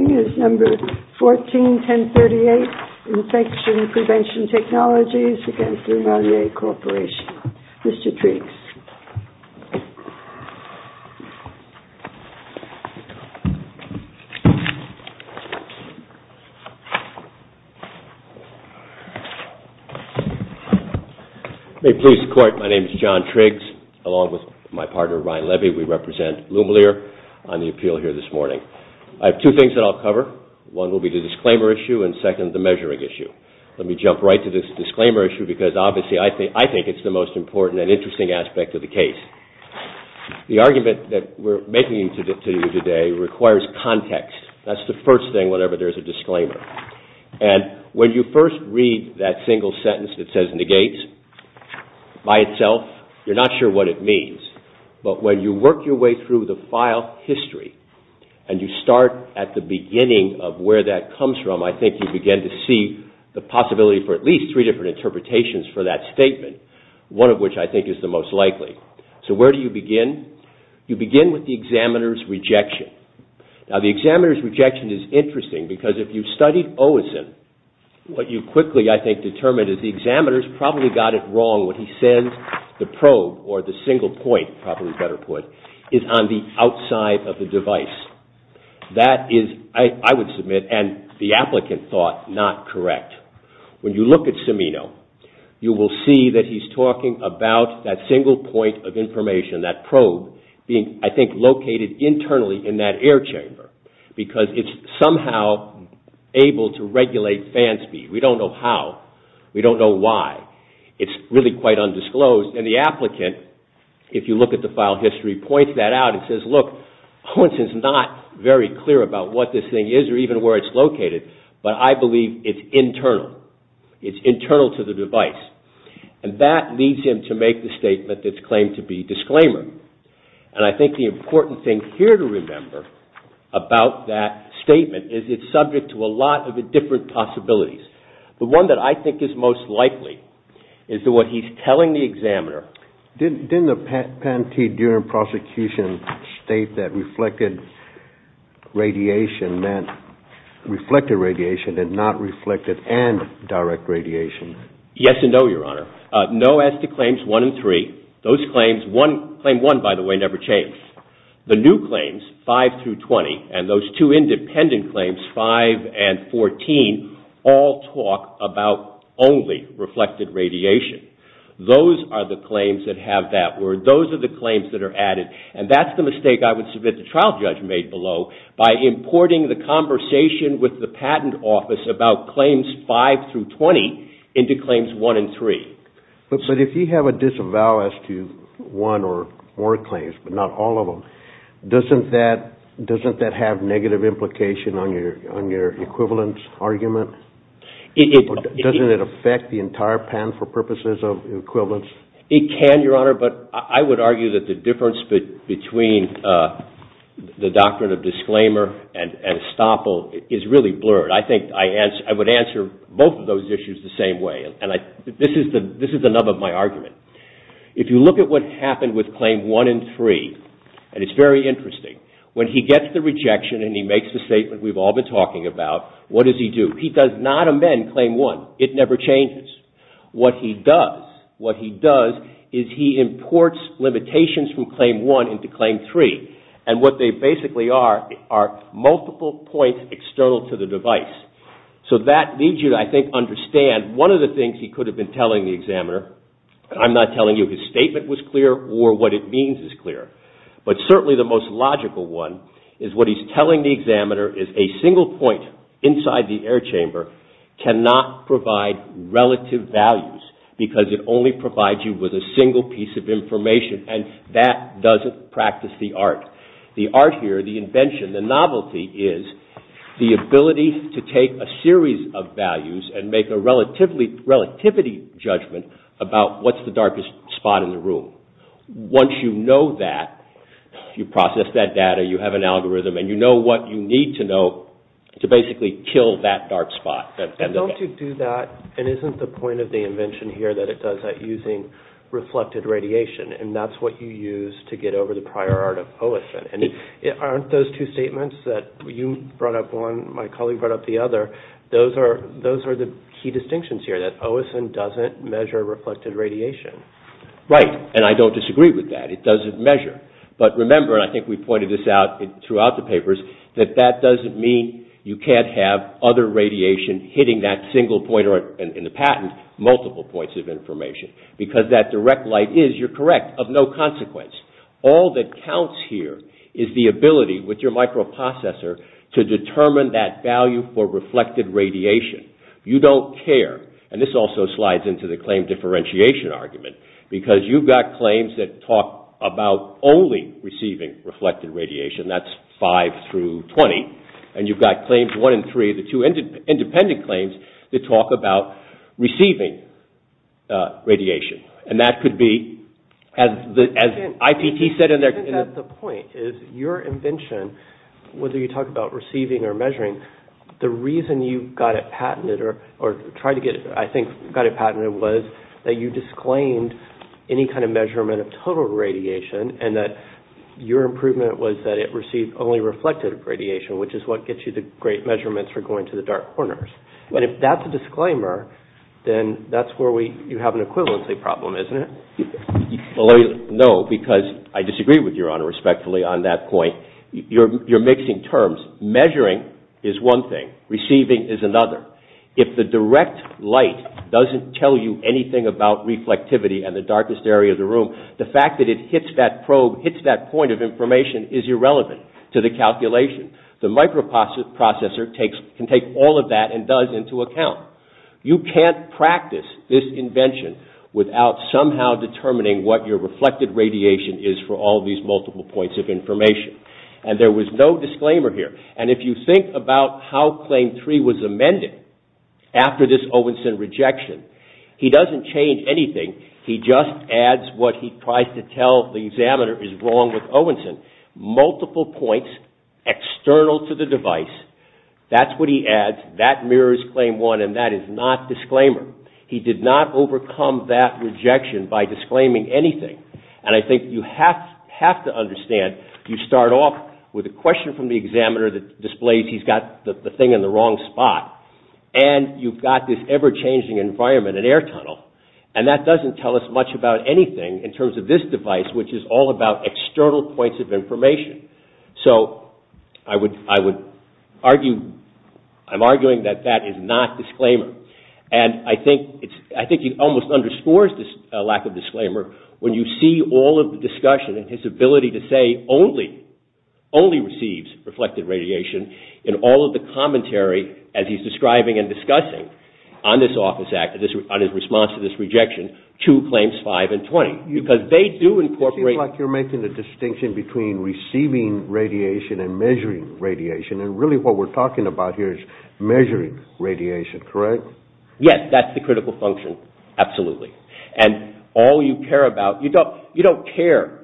141038 Infection Prevention Technologies against Lumalier Corporation. Mr. Triggs. May it please the Court, my name is John Triggs, along with my partner Ryan Levy. We represent Lumalier on the appeal here this morning. I have two things that I'll cover. One will be the disclaimer issue and second, the measuring issue. Let me jump right to this disclaimer issue because obviously I think it's the most important and interesting aspect of the case. The argument that we're making to you today requires context. That's the first thing whenever there's a disclaimer. And when you first read that single sentence that says negates, by itself, you're not sure what it means. But when you work your way through the file history and you start at the beginning of where that comes from, I think you begin to see the possibility for at least three different interpretations for that statement, one of which I think is the most likely. So where do you begin? You begin with the examiner's rejection. Now the examiner's rejection is interesting because if you studied Owenson, what you quickly, I think, determined is the examiner's probably got it wrong when he says the probe or the single point, probably a better word, is on the outside of the device. That is, I would submit, and the applicant thought not correct. When you look at Cimino, you will see that he's talking about that single point of information, that probe being, I think, located internally in that air chamber because it's somehow able to regulate fan speed. We don't know how. We don't know why. It's really quite undisclosed. And the applicant, if you look at the file history, points that out and says, look, Owenson's not very clear about what this thing is or even where it's located, but I believe it's internal. It's internal to the device. And that leads him to make the statement that's claimed to be disclaimer. And I think the important thing here to remember about that statement is it's subject to a lot of different possibilities. The one that I think is most likely is that what he's telling the examiner. Didn't the patentee during prosecution state that reflected radiation meant reflected radiation and not reflected and direct radiation? Yes and no, Your Honor. No as to claims one and three. Those claims, claim one, by the way, never changed. The new claims, five through 20, and those two independent claims, five and 14, all talk about only reflected radiation. Those are the claims that have that word. Those are the claims that are added. And that's the mistake I would submit the trial judge made below by importing the conversation with the patent office about claims five through 20 into claims one and three. But if you have a disavow as to one or more claims, but not all of them, doesn't that have negative implication on your equivalence argument? Doesn't it affect the entire patent for purposes of equivalence? It can, Your Honor, but I would argue that the difference between the doctrine of disclaimer and estoppel is really blurred. I think I would answer both of those issues the same way. This is the nub of my argument. If you look at what happened with claim one and three, and it's very interesting, when he gets the rejection and he makes the statement we've all been talking about, what does he do? He does not amend claim one. It never changes. What he does is he imports limitations from claim one into claim three. And what they basically are are multiple points external to the device. So that leads you to, I think, understand one of the things he could have been telling the examiner, and I'm not telling you his statement was clear or what it means is clear, but certainly the most logical one is what he's telling the examiner is a single point inside the air chamber cannot provide relative values because it only provides you with a single piece of information, and that doesn't practice the art. The art here, the invention, the novelty is the ability to take a series of values and make a relativity judgment about what's the darkest spot in the room. Once you know that, you process that data, you have an algorithm, and you know what you need to know to basically kill that dark spot. Don't you do that, and isn't the point of the invention here that it does that using reflected radiation, and that's what you use to get over the prior art of OSIN? And aren't those two statements that you brought up one, my colleague brought up the other, those are the key distinctions here, that OSIN doesn't measure reflected radiation? Right, and I don't disagree with that. It doesn't measure. But remember, and I think we pointed this out throughout the papers, that that doesn't mean you can't have other radiation hitting that single point in the patent, because that direct light is, you're correct, of no consequence. All that counts here is the ability with your microprocessor to determine that value for reflected radiation. You don't care, and this also slides into the claim differentiation argument, because you've got claims that talk about only receiving reflected radiation, that's five through 20, and you've got claims one and three, the two independent claims, that talk about receiving radiation. And that could be, as IPT said in their... I think that the point is, your invention, whether you talk about receiving or measuring, the reason you got it patented, or tried to get it, I think, got it patented, was that you disclaimed any kind of measurement of total radiation, and that your improvement was that it received only reflected radiation, which is what gets you the great measurements for going to the dark corners. And if that's a disclaimer, then that's where you have an equivalency problem, isn't it? Well, no, because I disagree with Your Honor respectfully on that point. You're mixing terms. Measuring is one thing. Receiving is another. If the direct light doesn't tell you anything about reflectivity and the darkest area of the room, the fact that it hits that probe, hits that point of information, is irrelevant to the calculation. The microprocessor can take all of that and does into account. You can't practice this invention without somehow determining what your reflected radiation is for all these multiple points of information. And there was no disclaimer here. And if you think about how claim three was amended after this Owenson rejection, he doesn't change anything. He just adds what he tries to tell the examiner is wrong with Owenson. Multiple points external to the device, that's what he adds. That mirrors claim one, and that is not disclaimer. He did not overcome that rejection by disclaiming anything. And I think you have to understand, you start off with a question from the examiner that displays he's got the thing in the wrong spot. And you've got this ever-changing environment, an air tunnel. And that doesn't tell us much about anything in terms of this device, which is all about external points of information. So I would argue, I'm arguing that that is not disclaimer. And I think he almost underscores this lack of disclaimer when you see all of the discussion and his ability to say only, only receives reflected radiation in all of the commentary as he's describing and discussing on this office act, on his response to this rejection, to claims five and 20, because they do incorporate... It seems like you're making the distinction between receiving radiation and measuring radiation. And really what we're talking about here is measuring radiation, correct? Yes, that's the critical function, absolutely. And all you care about, you don't care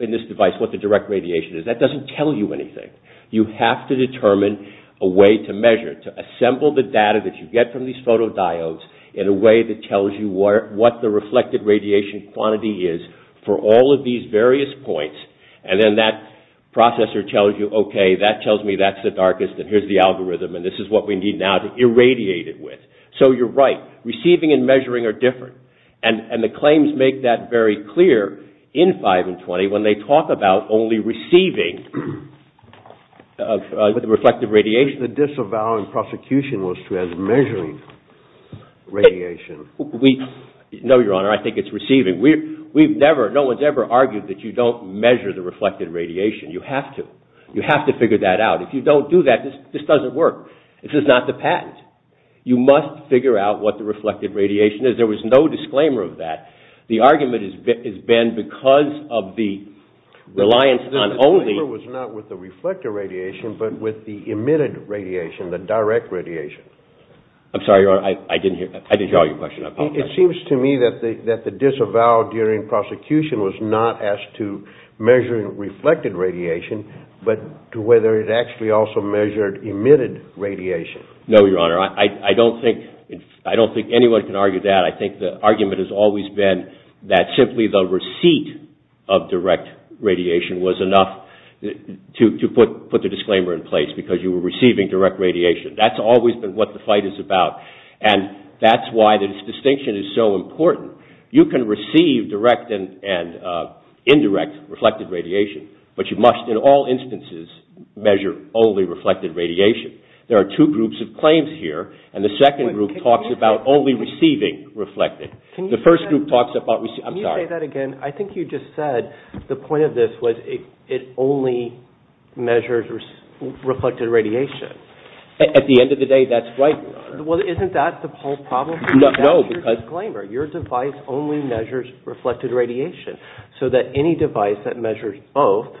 in this device what the direct radiation is. That doesn't tell you anything. You have to determine a way to measure, to assemble the data that you get from these photodiodes in a way that tells you what the reflected radiation quantity is for all of these various points. And then that processor tells you, okay, that tells me that's the darkest and here's the algorithm and this is what we need now to irradiate it with. So you're right, receiving and measuring are different. And the claims make that very clear in five and 20 when they talk about only receiving the reflected radiation. The disavowing prosecution was to have measuring radiation. No, Your Honor, I think it's receiving. We've never, no one's ever argued that you don't measure the reflected radiation. You have to. You have to figure that out. If you don't do that, this doesn't work. This is not the patent. You must figure out what the reflected radiation is. There was no disclaimer of that. The argument has been because of the reliance on only… The disclaimer was not with the reflected radiation but with the emitted radiation, the direct radiation. I'm sorry, Your Honor, I didn't hear, I didn't hear all your question. It seems to me that the disavow during prosecution was not as to measuring reflected radiation but to whether it actually also measured emitted radiation. No, Your Honor, I don't think anyone can argue that. I think the argument has always been that simply the receipt of direct radiation was enough to put the disclaimer in place because you were receiving direct radiation. That's always been what the fight is about. And that's why this distinction is so important. You can receive direct and indirect reflected radiation, but you must in all instances measure only reflected radiation. There are two groups of claims here, and the second group talks about only receiving reflected. The first group talks about… Can you say that again? I think you just said the point of this was it only measures reflected radiation. At the end of the day, that's right, Your Honor. Well, isn't that the whole problem? No, because… That's your disclaimer. Your device only measures reflected radiation so that any device that measures both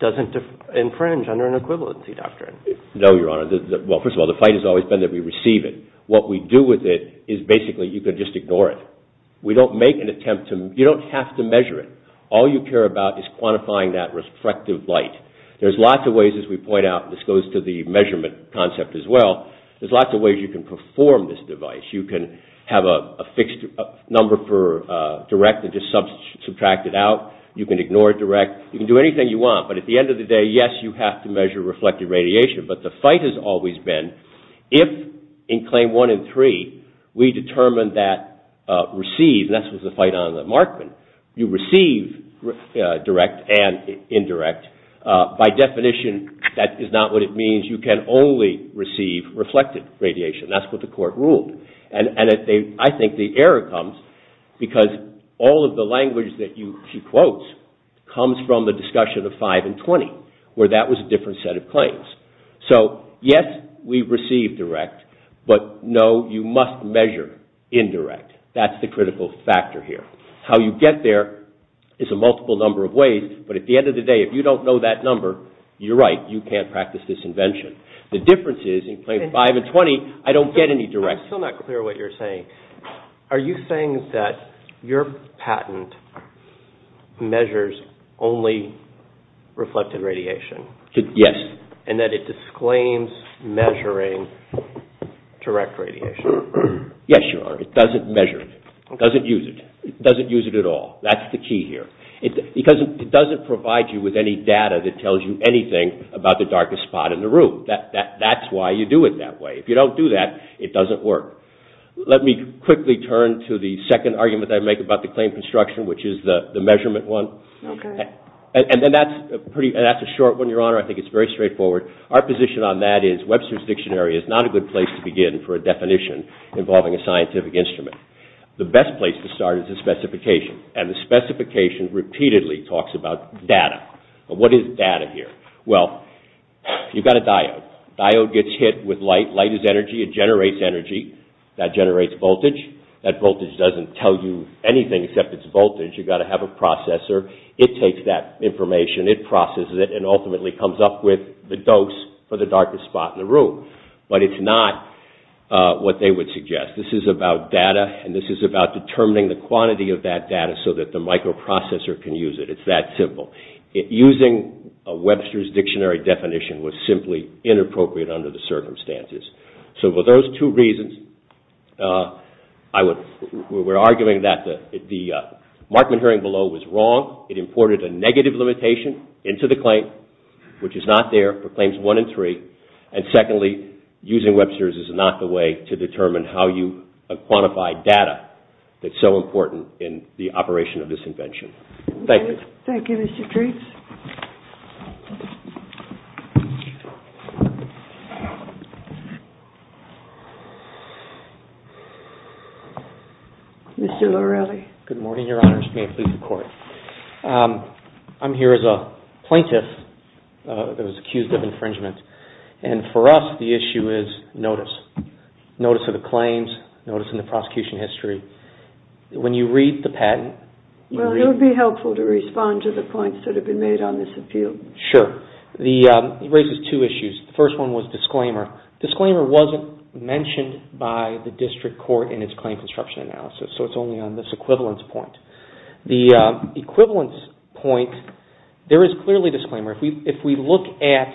doesn't infringe under an equivalency doctrine. No, Your Honor. Well, first of all, the fight has always been that we receive it. What we do with it is basically you can just ignore it. We don't make an attempt to… You don't have to measure it. All you care about is quantifying that reflective light. There's lots of ways, as we point out, and this goes to the measurement concept as well, there's lots of ways you can perform this device. You can have a fixed number for direct and just subtract it out. You can ignore direct. You can do anything you want. But at the end of the day, yes, you have to measure reflected radiation. But the fight has always been if in Claim 1 and 3 we determine that received, and that's what the fight on the Markman, you receive direct and indirect, by definition that is not what it means. You can only receive reflected radiation. That's what the court ruled. I think the error comes because all of the language that she quotes comes from the discussion of 5 and 20, where that was a different set of claims. So, yes, we receive direct, but no, you must measure indirect. That's the critical factor here. How you get there is a multiple number of ways, but at the end of the day, if you don't know that number, you're right. You can't practice this invention. The difference is in Claims 5 and 20, I don't get any direct. I'm still not clear what you're saying. Are you saying that your patent measures only reflected radiation? Yes. And that it disclaims measuring direct radiation? Yes, Your Honor. It doesn't measure it. It doesn't use it. It doesn't use it at all. That's the key here. Because it doesn't provide you with any data that tells you anything about the darkest spot in the room. That's why you do it that way. If you don't do that, it doesn't work. Let me quickly turn to the second argument I make about the claim construction, which is the measurement one. Okay. And that's a short one, Your Honor. I think it's very straightforward. Our position on that is Webster's Dictionary is not a good place to begin for a definition involving a scientific instrument. The best place to start is the specification, and the specification repeatedly talks about data. What is data here? Well, you've got a diode. The diode gets hit with light. Light is energy. It generates energy. That generates voltage. That voltage doesn't tell you anything except it's voltage. You've got to have a processor. It takes that information, it processes it, and ultimately comes up with the dose for the darkest spot in the room. But it's not what they would suggest. This is about data, and this is about determining the quantity of that data so that the microprocessor can use it. It's that simple. Using a Webster's Dictionary definition was simply inappropriate under the circumstances. So for those two reasons, we're arguing that the Markman hearing below was wrong. It imported a negative limitation into the claim, which is not there for claims 1 and 3. And secondly, using Webster's is not the way to determine how you quantify data that's so important in the operation of this invention. Thank you. Thank you, Mr. Treats. Mr. Lorelli. Good morning, Your Honors. May it please the Court. I'm here as a plaintiff that was accused of infringement. And for us, the issue is notice. Notice of the claims, notice in the prosecution history. When you read the patent, you read— It would be helpful to respond to the points that have been made on this appeal. Sure. It raises two issues. The first one was disclaimer. Disclaimer wasn't mentioned by the district court in its claim construction analysis, so it's only on this equivalence point. The equivalence point, there is clearly disclaimer. If we look at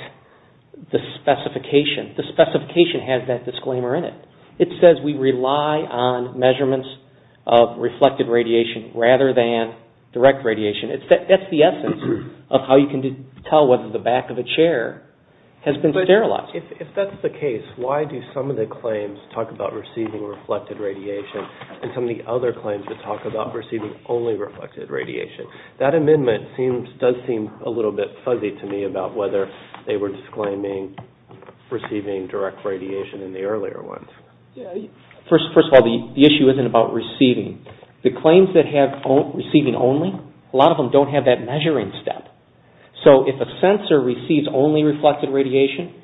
the specification, the specification has that disclaimer in it. It says we rely on measurements of reflected radiation rather than direct radiation. That's the essence of how you can tell whether the back of a chair has been sterilized. If that's the case, why do some of the claims talk about receiving reflected radiation and some of the other claims that talk about receiving only reflected radiation? That amendment does seem a little bit fuzzy to me about whether they were disclaiming or receiving direct radiation in the earlier ones. First of all, the issue isn't about receiving. The claims that have receiving only, a lot of them don't have that measuring step. So, if a sensor receives only reflected radiation,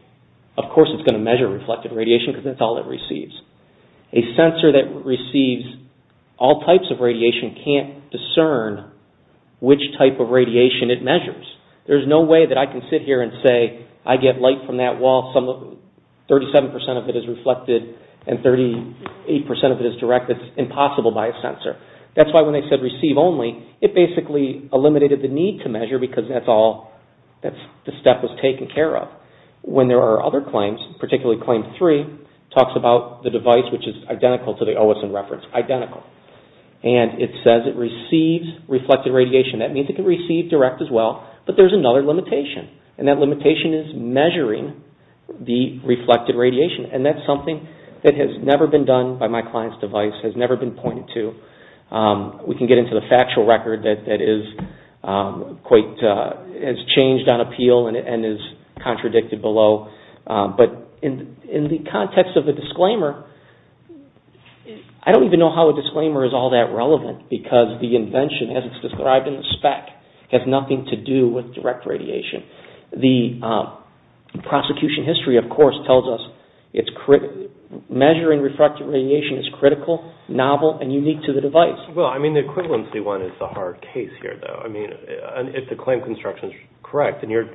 of course it's going to measure reflected radiation because that's all it receives. A sensor that receives all types of radiation can't discern which type of radiation it measures. There's no way that I can sit here and say I get light from that wall, 37% of it is reflected and 38% of it is direct. That's impossible by a sensor. That's why when they said receive only, it basically eliminated the need to measure because that's all, the step was taken care of. When there are other claims, particularly Claim 3, it talks about the device which is identical to the OSM reference, identical. It says it receives reflected radiation. That means it can receive direct as well, but there's another limitation. And that limitation is measuring the reflected radiation. And that's something that has never been done by my client's device, has never been pointed to. We can get into the factual record that has changed on appeal and is contradicted below. But in the context of the disclaimer, I don't even know how a disclaimer is all that relevant because the invention, as it's described in the spec, has nothing to do with direct radiation. The prosecution history, of course, tells us it's critical. Measuring reflected radiation is critical, novel, and unique to the device. Well, I mean the equivalency one is the hard case here though. I mean, if the claim construction is correct, and your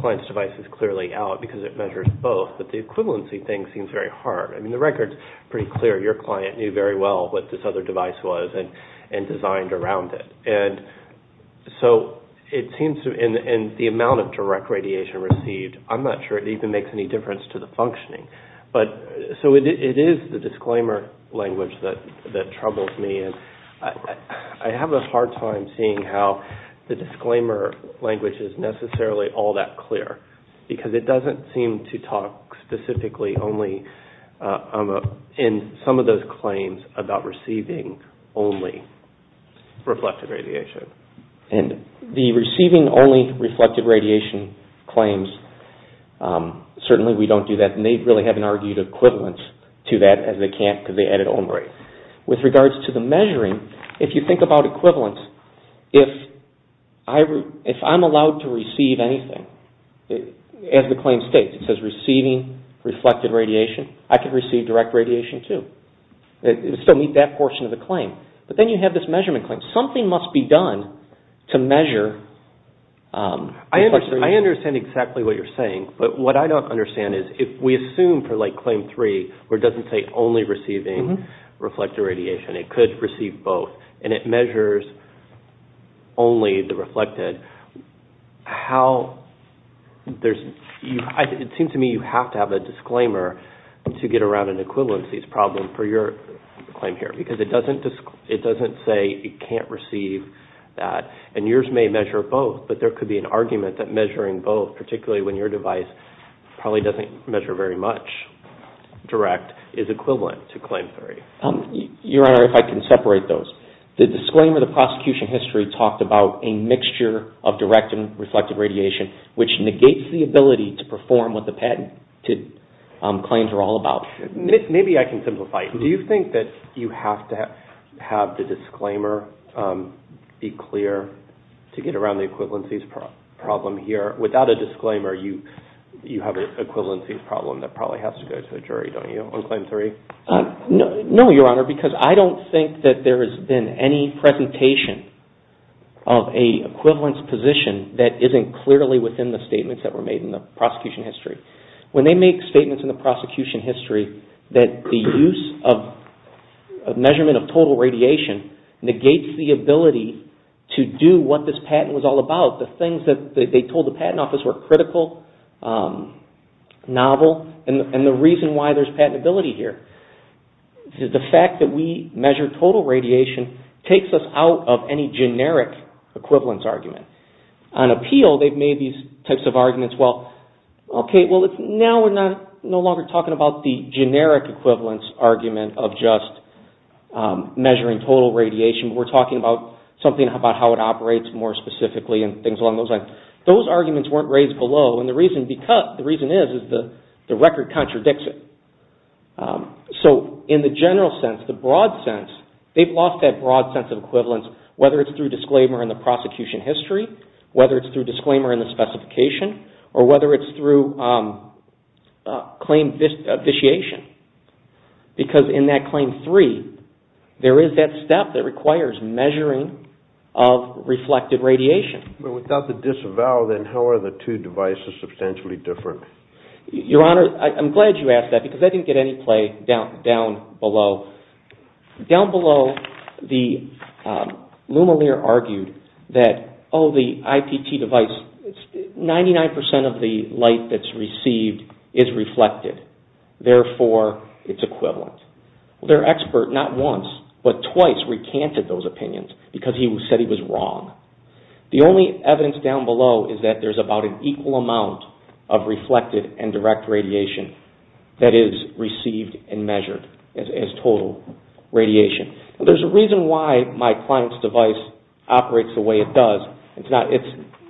client's device is clearly out because it measures both, but the equivalency thing seems very hard. I mean, the record's pretty clear. Your client knew very well what this other device was and designed around it. And so it seems in the amount of direct radiation received, I'm not sure it even makes any difference to the functioning. So it is the disclaimer language that troubles me. I have a hard time seeing how the disclaimer language is necessarily all that clear because it doesn't seem to talk specifically only in some of those claims about receiving only reflected radiation. And the receiving only reflected radiation claims, certainly we don't do that, and they really haven't argued equivalence to that as they can't because they edit only. With regards to the measuring, if you think about equivalence, if I'm allowed to receive anything, as the claim states, it says receiving reflected radiation, I can receive direct radiation too. So meet that portion of the claim. But then you have this measurement claim. Something must be done to measure. I understand exactly what you're saying, but what I don't understand is if we assume for like claim three where it doesn't say only receiving reflected radiation, it could receive both, and it measures only the reflected, it seems to me you have to have a disclaimer to get around an equivalency problem for your claim here because it doesn't say it can't receive that. And yours may measure both, but there could be an argument that measuring both, particularly when your device probably doesn't measure very much direct, is equivalent to claim three. Your Honor, if I can separate those. The disclaimer, the prosecution history, talked about a mixture of direct and reflected radiation, which negates the ability to perform what the patent claims are all about. Maybe I can simplify it. Do you think that you have to have the disclaimer be clear to get around the equivalency problem here? Without a disclaimer, you have an equivalency problem that probably has to go to the jury, don't you, on claim three? No, Your Honor, because I don't think that there has been any presentation of a equivalence position that isn't clearly within the statements that were made in the prosecution history. When they make statements in the prosecution history that the use of measurement of total radiation negates the ability to do what this patent was all about, the things that they told the patent office were critical, novel, and the reason why there's patentability here is the fact that we measure total radiation takes us out of any generic equivalence argument. On appeal, they've made these types of arguments. Well, okay, now we're no longer talking about the generic equivalence argument of just measuring total radiation. We're talking about something about how it operates more specifically and things along those lines. Those arguments weren't raised below, and the reason is the record contradicts it. In the general sense, the broad sense, they've lost that broad sense of equivalence, whether it's through disclaimer in the prosecution history, whether it's through disclaimer in the specification, or whether it's through claim vitiation, because in that claim three, there is that step that requires measuring of reflected radiation. But without the disavow, then how are the two devices substantially different? Your Honor, I'm glad you asked that, because I didn't get any play down below. Down below, Luma Lear argued that, oh, the IPT device, 99% of the light that's received is reflected. Therefore, it's equivalent. Their expert not once, but twice recanted those opinions because he said he was wrong. The only evidence down below is that there's about an equal amount of reflected and direct radiation that is received and measured as total radiation. There's a reason why my client's device operates the way it does. It's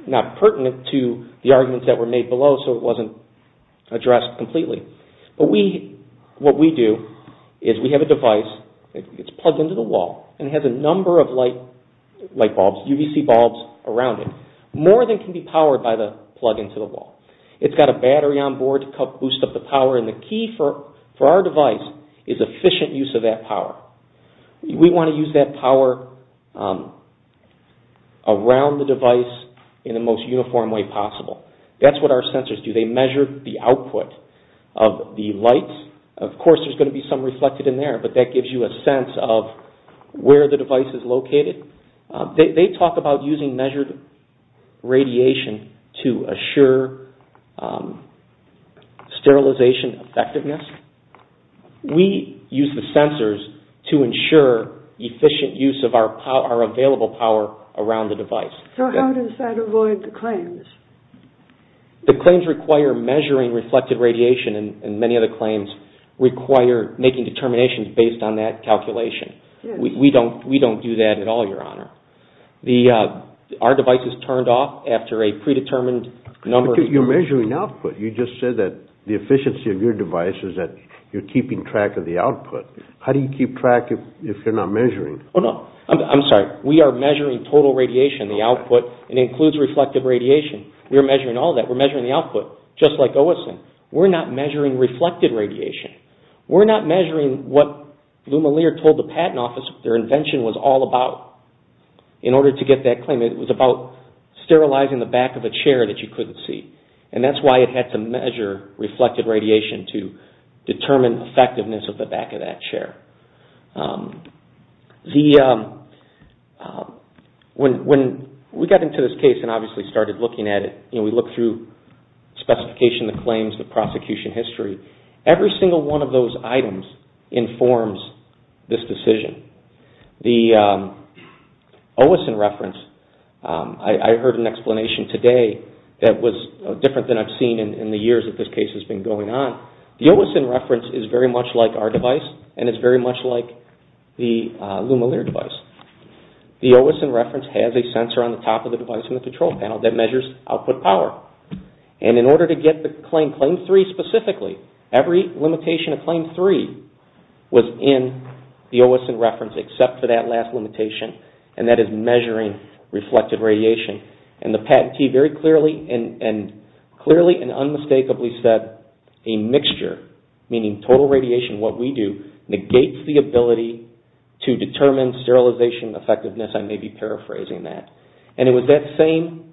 not pertinent to the arguments that were made below, so it wasn't addressed completely. But what we do is we have a device, it's plugged into the wall, and it has a number of light bulbs, UVC bulbs around it. More than can be powered by the plug into the wall. It's got a battery on board to boost up the power, and the key for our device is efficient use of that power. We want to use that power around the device in the most uniform way possible. That's what our sensors do. They measure the output of the light. Of course, there's going to be some reflected in there, but that gives you a sense of where the device is located. They talk about using measured radiation to assure sterilization effectiveness. We use the sensors to ensure efficient use of our available power around the device. So how does that avoid the claims? The claims require measuring reflected radiation, and many other claims require making determinations based on that calculation. We don't do that at all, Your Honor. Our device is turned off after a predetermined number of hours. But you're measuring output. You just said that the efficiency of your device is that you're keeping track of the output. How do you keep track if you're not measuring? Oh, no. I'm sorry. We are measuring total radiation, the output, and it includes reflected radiation. We're measuring all that. We're measuring the output, just like OSIN. We're not measuring reflected radiation. We're not measuring what Lou Malier told the Patent Office their invention was all about in order to get that claim. It was about sterilizing the back of a chair that you couldn't see. And that's why it had to measure reflected radiation to determine effectiveness of the back of that chair. When we got into this case and obviously started looking at it, we looked through specification, the claims, the prosecution history. Every single one of those items informs this decision. The OSIN reference, I heard an explanation today that was different than I've seen in the years that this case has been going on. The OSIN reference is very much like our device and it's very much like the Lou Malier device. The OSIN reference has a sensor on the top of the device in the control panel that measures output power. And in order to get the claim, claim three specifically, every limitation of claim three was in the OSIN reference except for that last limitation, and that is measuring reflected radiation. And the patentee very clearly and unmistakably said a mixture, meaning total radiation, what we do, negates the ability to determine sterilization effectiveness. I may be paraphrasing that. And it was that same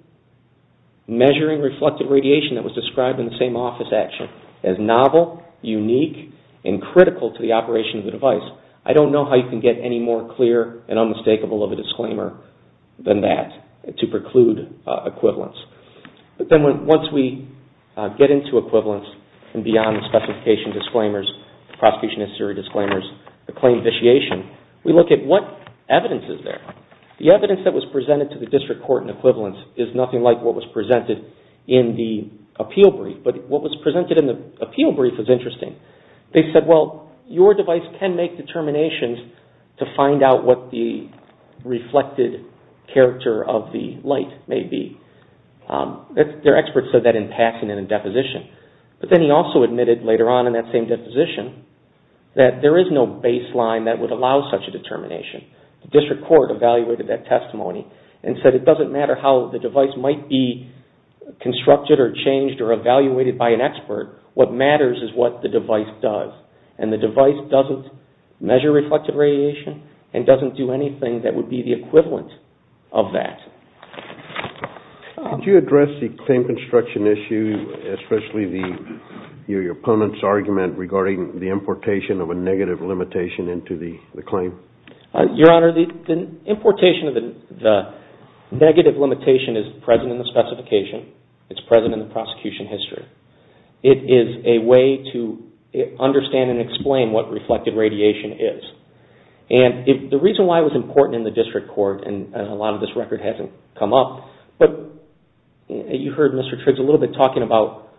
measuring reflected radiation that was described in the same office action as novel, unique, and critical to the operation of the device. I don't know how you can get any more clear and unmistakable of a disclaimer than that to preclude equivalence. But then once we get into equivalence and beyond the specification disclaimers, the prosecution history disclaimers, the claim vitiation, we look at what evidence is there. The evidence that was presented to the district court in equivalence is nothing like what was presented in the appeal brief. But what was presented in the appeal brief was interesting. They said, well, your device can make determinations to find out what the reflected character of the light may be. Their experts said that in passing and in deposition. But then he also admitted later on in that same deposition that there is no baseline that would allow such a determination. The district court evaluated that testimony and said it doesn't matter how the device might be constructed or changed or evaluated by an expert. What matters is what the device does. And the device doesn't measure reflected radiation and doesn't do anything that would be the equivalent of that. Could you address the claim construction issue, especially your opponent's argument regarding the importation of a negative limitation into the claim? Your Honor, the importation of the negative limitation is present in the specification. It's present in the prosecution history. It is a way to understand and explain what reflected radiation is. And the reason why it was important in the district court, and a lot of this record hasn't come up, but you heard Mr. Triggs a little bit talking about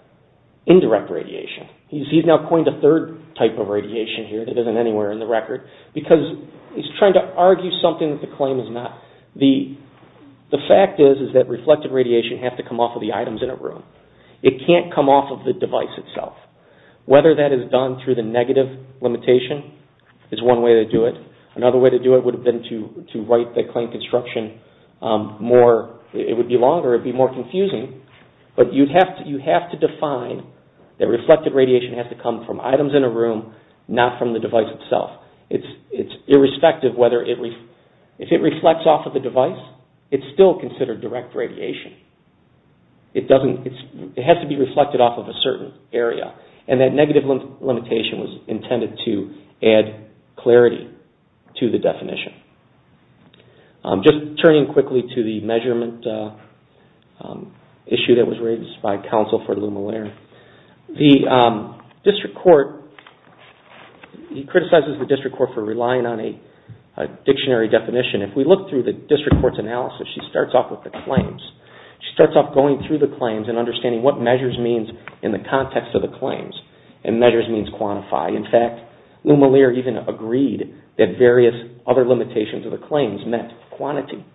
indirect radiation. He's now coined a third type of radiation here that isn't anywhere in the record. Because he's trying to argue something that the claim is not. The fact is that reflected radiation has to come off of the items in a room. It can't come off of the device itself. Whether that is done through the negative limitation is one way to do it. Another way to do it would have been to write the claim construction more, it would be longer, it would be more confusing. But you have to define that reflected radiation has to come from items in a room, not from the device itself. It's irrespective whether, if it reflects off of the device, it's still considered direct radiation. It has to be reflected off of a certain area. And that negative limitation was intended to add clarity to the definition. Just turning quickly to the measurement issue that was raised by counsel for Lou Maler. The district court, he criticizes the district court for relying on a dictionary definition. If we look through the district court's analysis, she starts off with the claims. She starts off going through the claims and understanding what measures means in the context of the claims. And measures means quantify. In fact, Lou Maler even agreed that various other limitations of the claims meant quantity.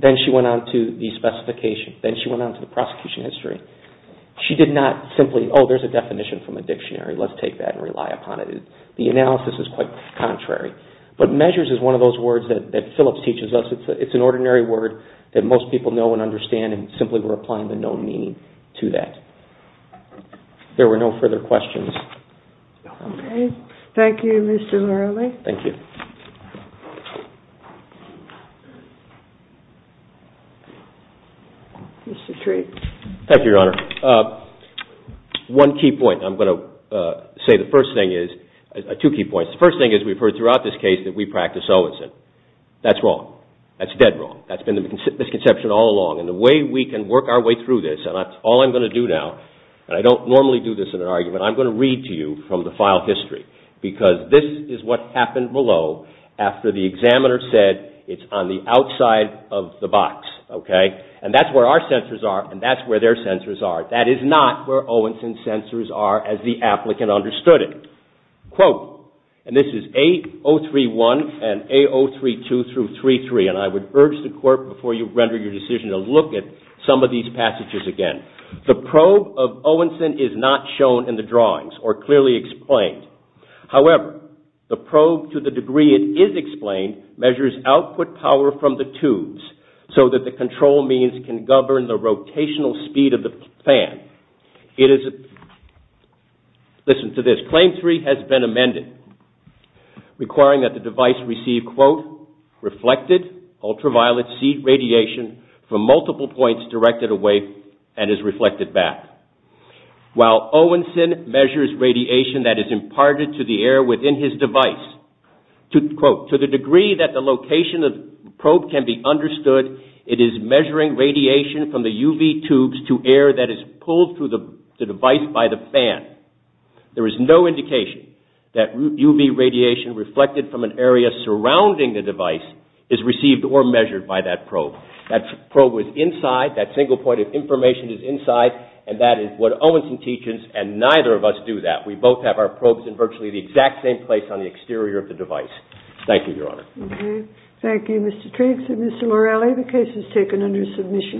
Then she went on to the specification. Then she went on to the prosecution history. She did not simply, oh, there's a definition from a dictionary. Let's take that and rely upon it. The analysis is quite contrary. But measures is one of those words that Phillips teaches us. It's an ordinary word that most people know and understand and simply we're applying the known meaning to that. There were no further questions. Okay. Thank you, Mr. Lurley. Thank you. Mr. Treat. Thank you, Your Honor. One key point. I'm going to say the first thing is, two key points. The first thing is we've heard throughout this case that we practice Owenson. That's wrong. That's dead wrong. That's been the misconception all along. And the way we can work our way through this, and that's all I'm going to do now, and I don't normally do this in an argument, I'm going to read to you from the file history because this is what happened below after the examiner said it's on the outside of the box. Okay. And that's where our sensors are and that's where their sensors are. That is not where Owenson's sensors are as the applicant understood it. Quote, and this is A031 and A032 through 33, and I would urge the court before you render your decision to look at some of these passages again. The probe of Owenson is not shown in the drawings or clearly explained. However, the probe to the degree it is explained measures output power from the tubes so that the control means can govern the rotational speed of the fan. Listen to this. Claim three has been amended requiring that the device receive quote, reflected ultraviolet seed radiation from multiple points directed away and is reflected back. While Owenson measures radiation quote, to the degree that the location of the probe can be understood, it is measuring radiation from the UV tubes to air that is pulled through the device by the fan. There is no indication that UV radiation reflected from an area surrounding the device is received or measured by that probe. That probe was inside, that single point of information is inside and that is what Owenson teaches and neither of us do that. We both have our probes in virtually the exact same place on the exterior of the device. Thank you, Your Honor. Okay. Thank you, Mr. Triggs and Mr. Lorelli. The case is taken under submission.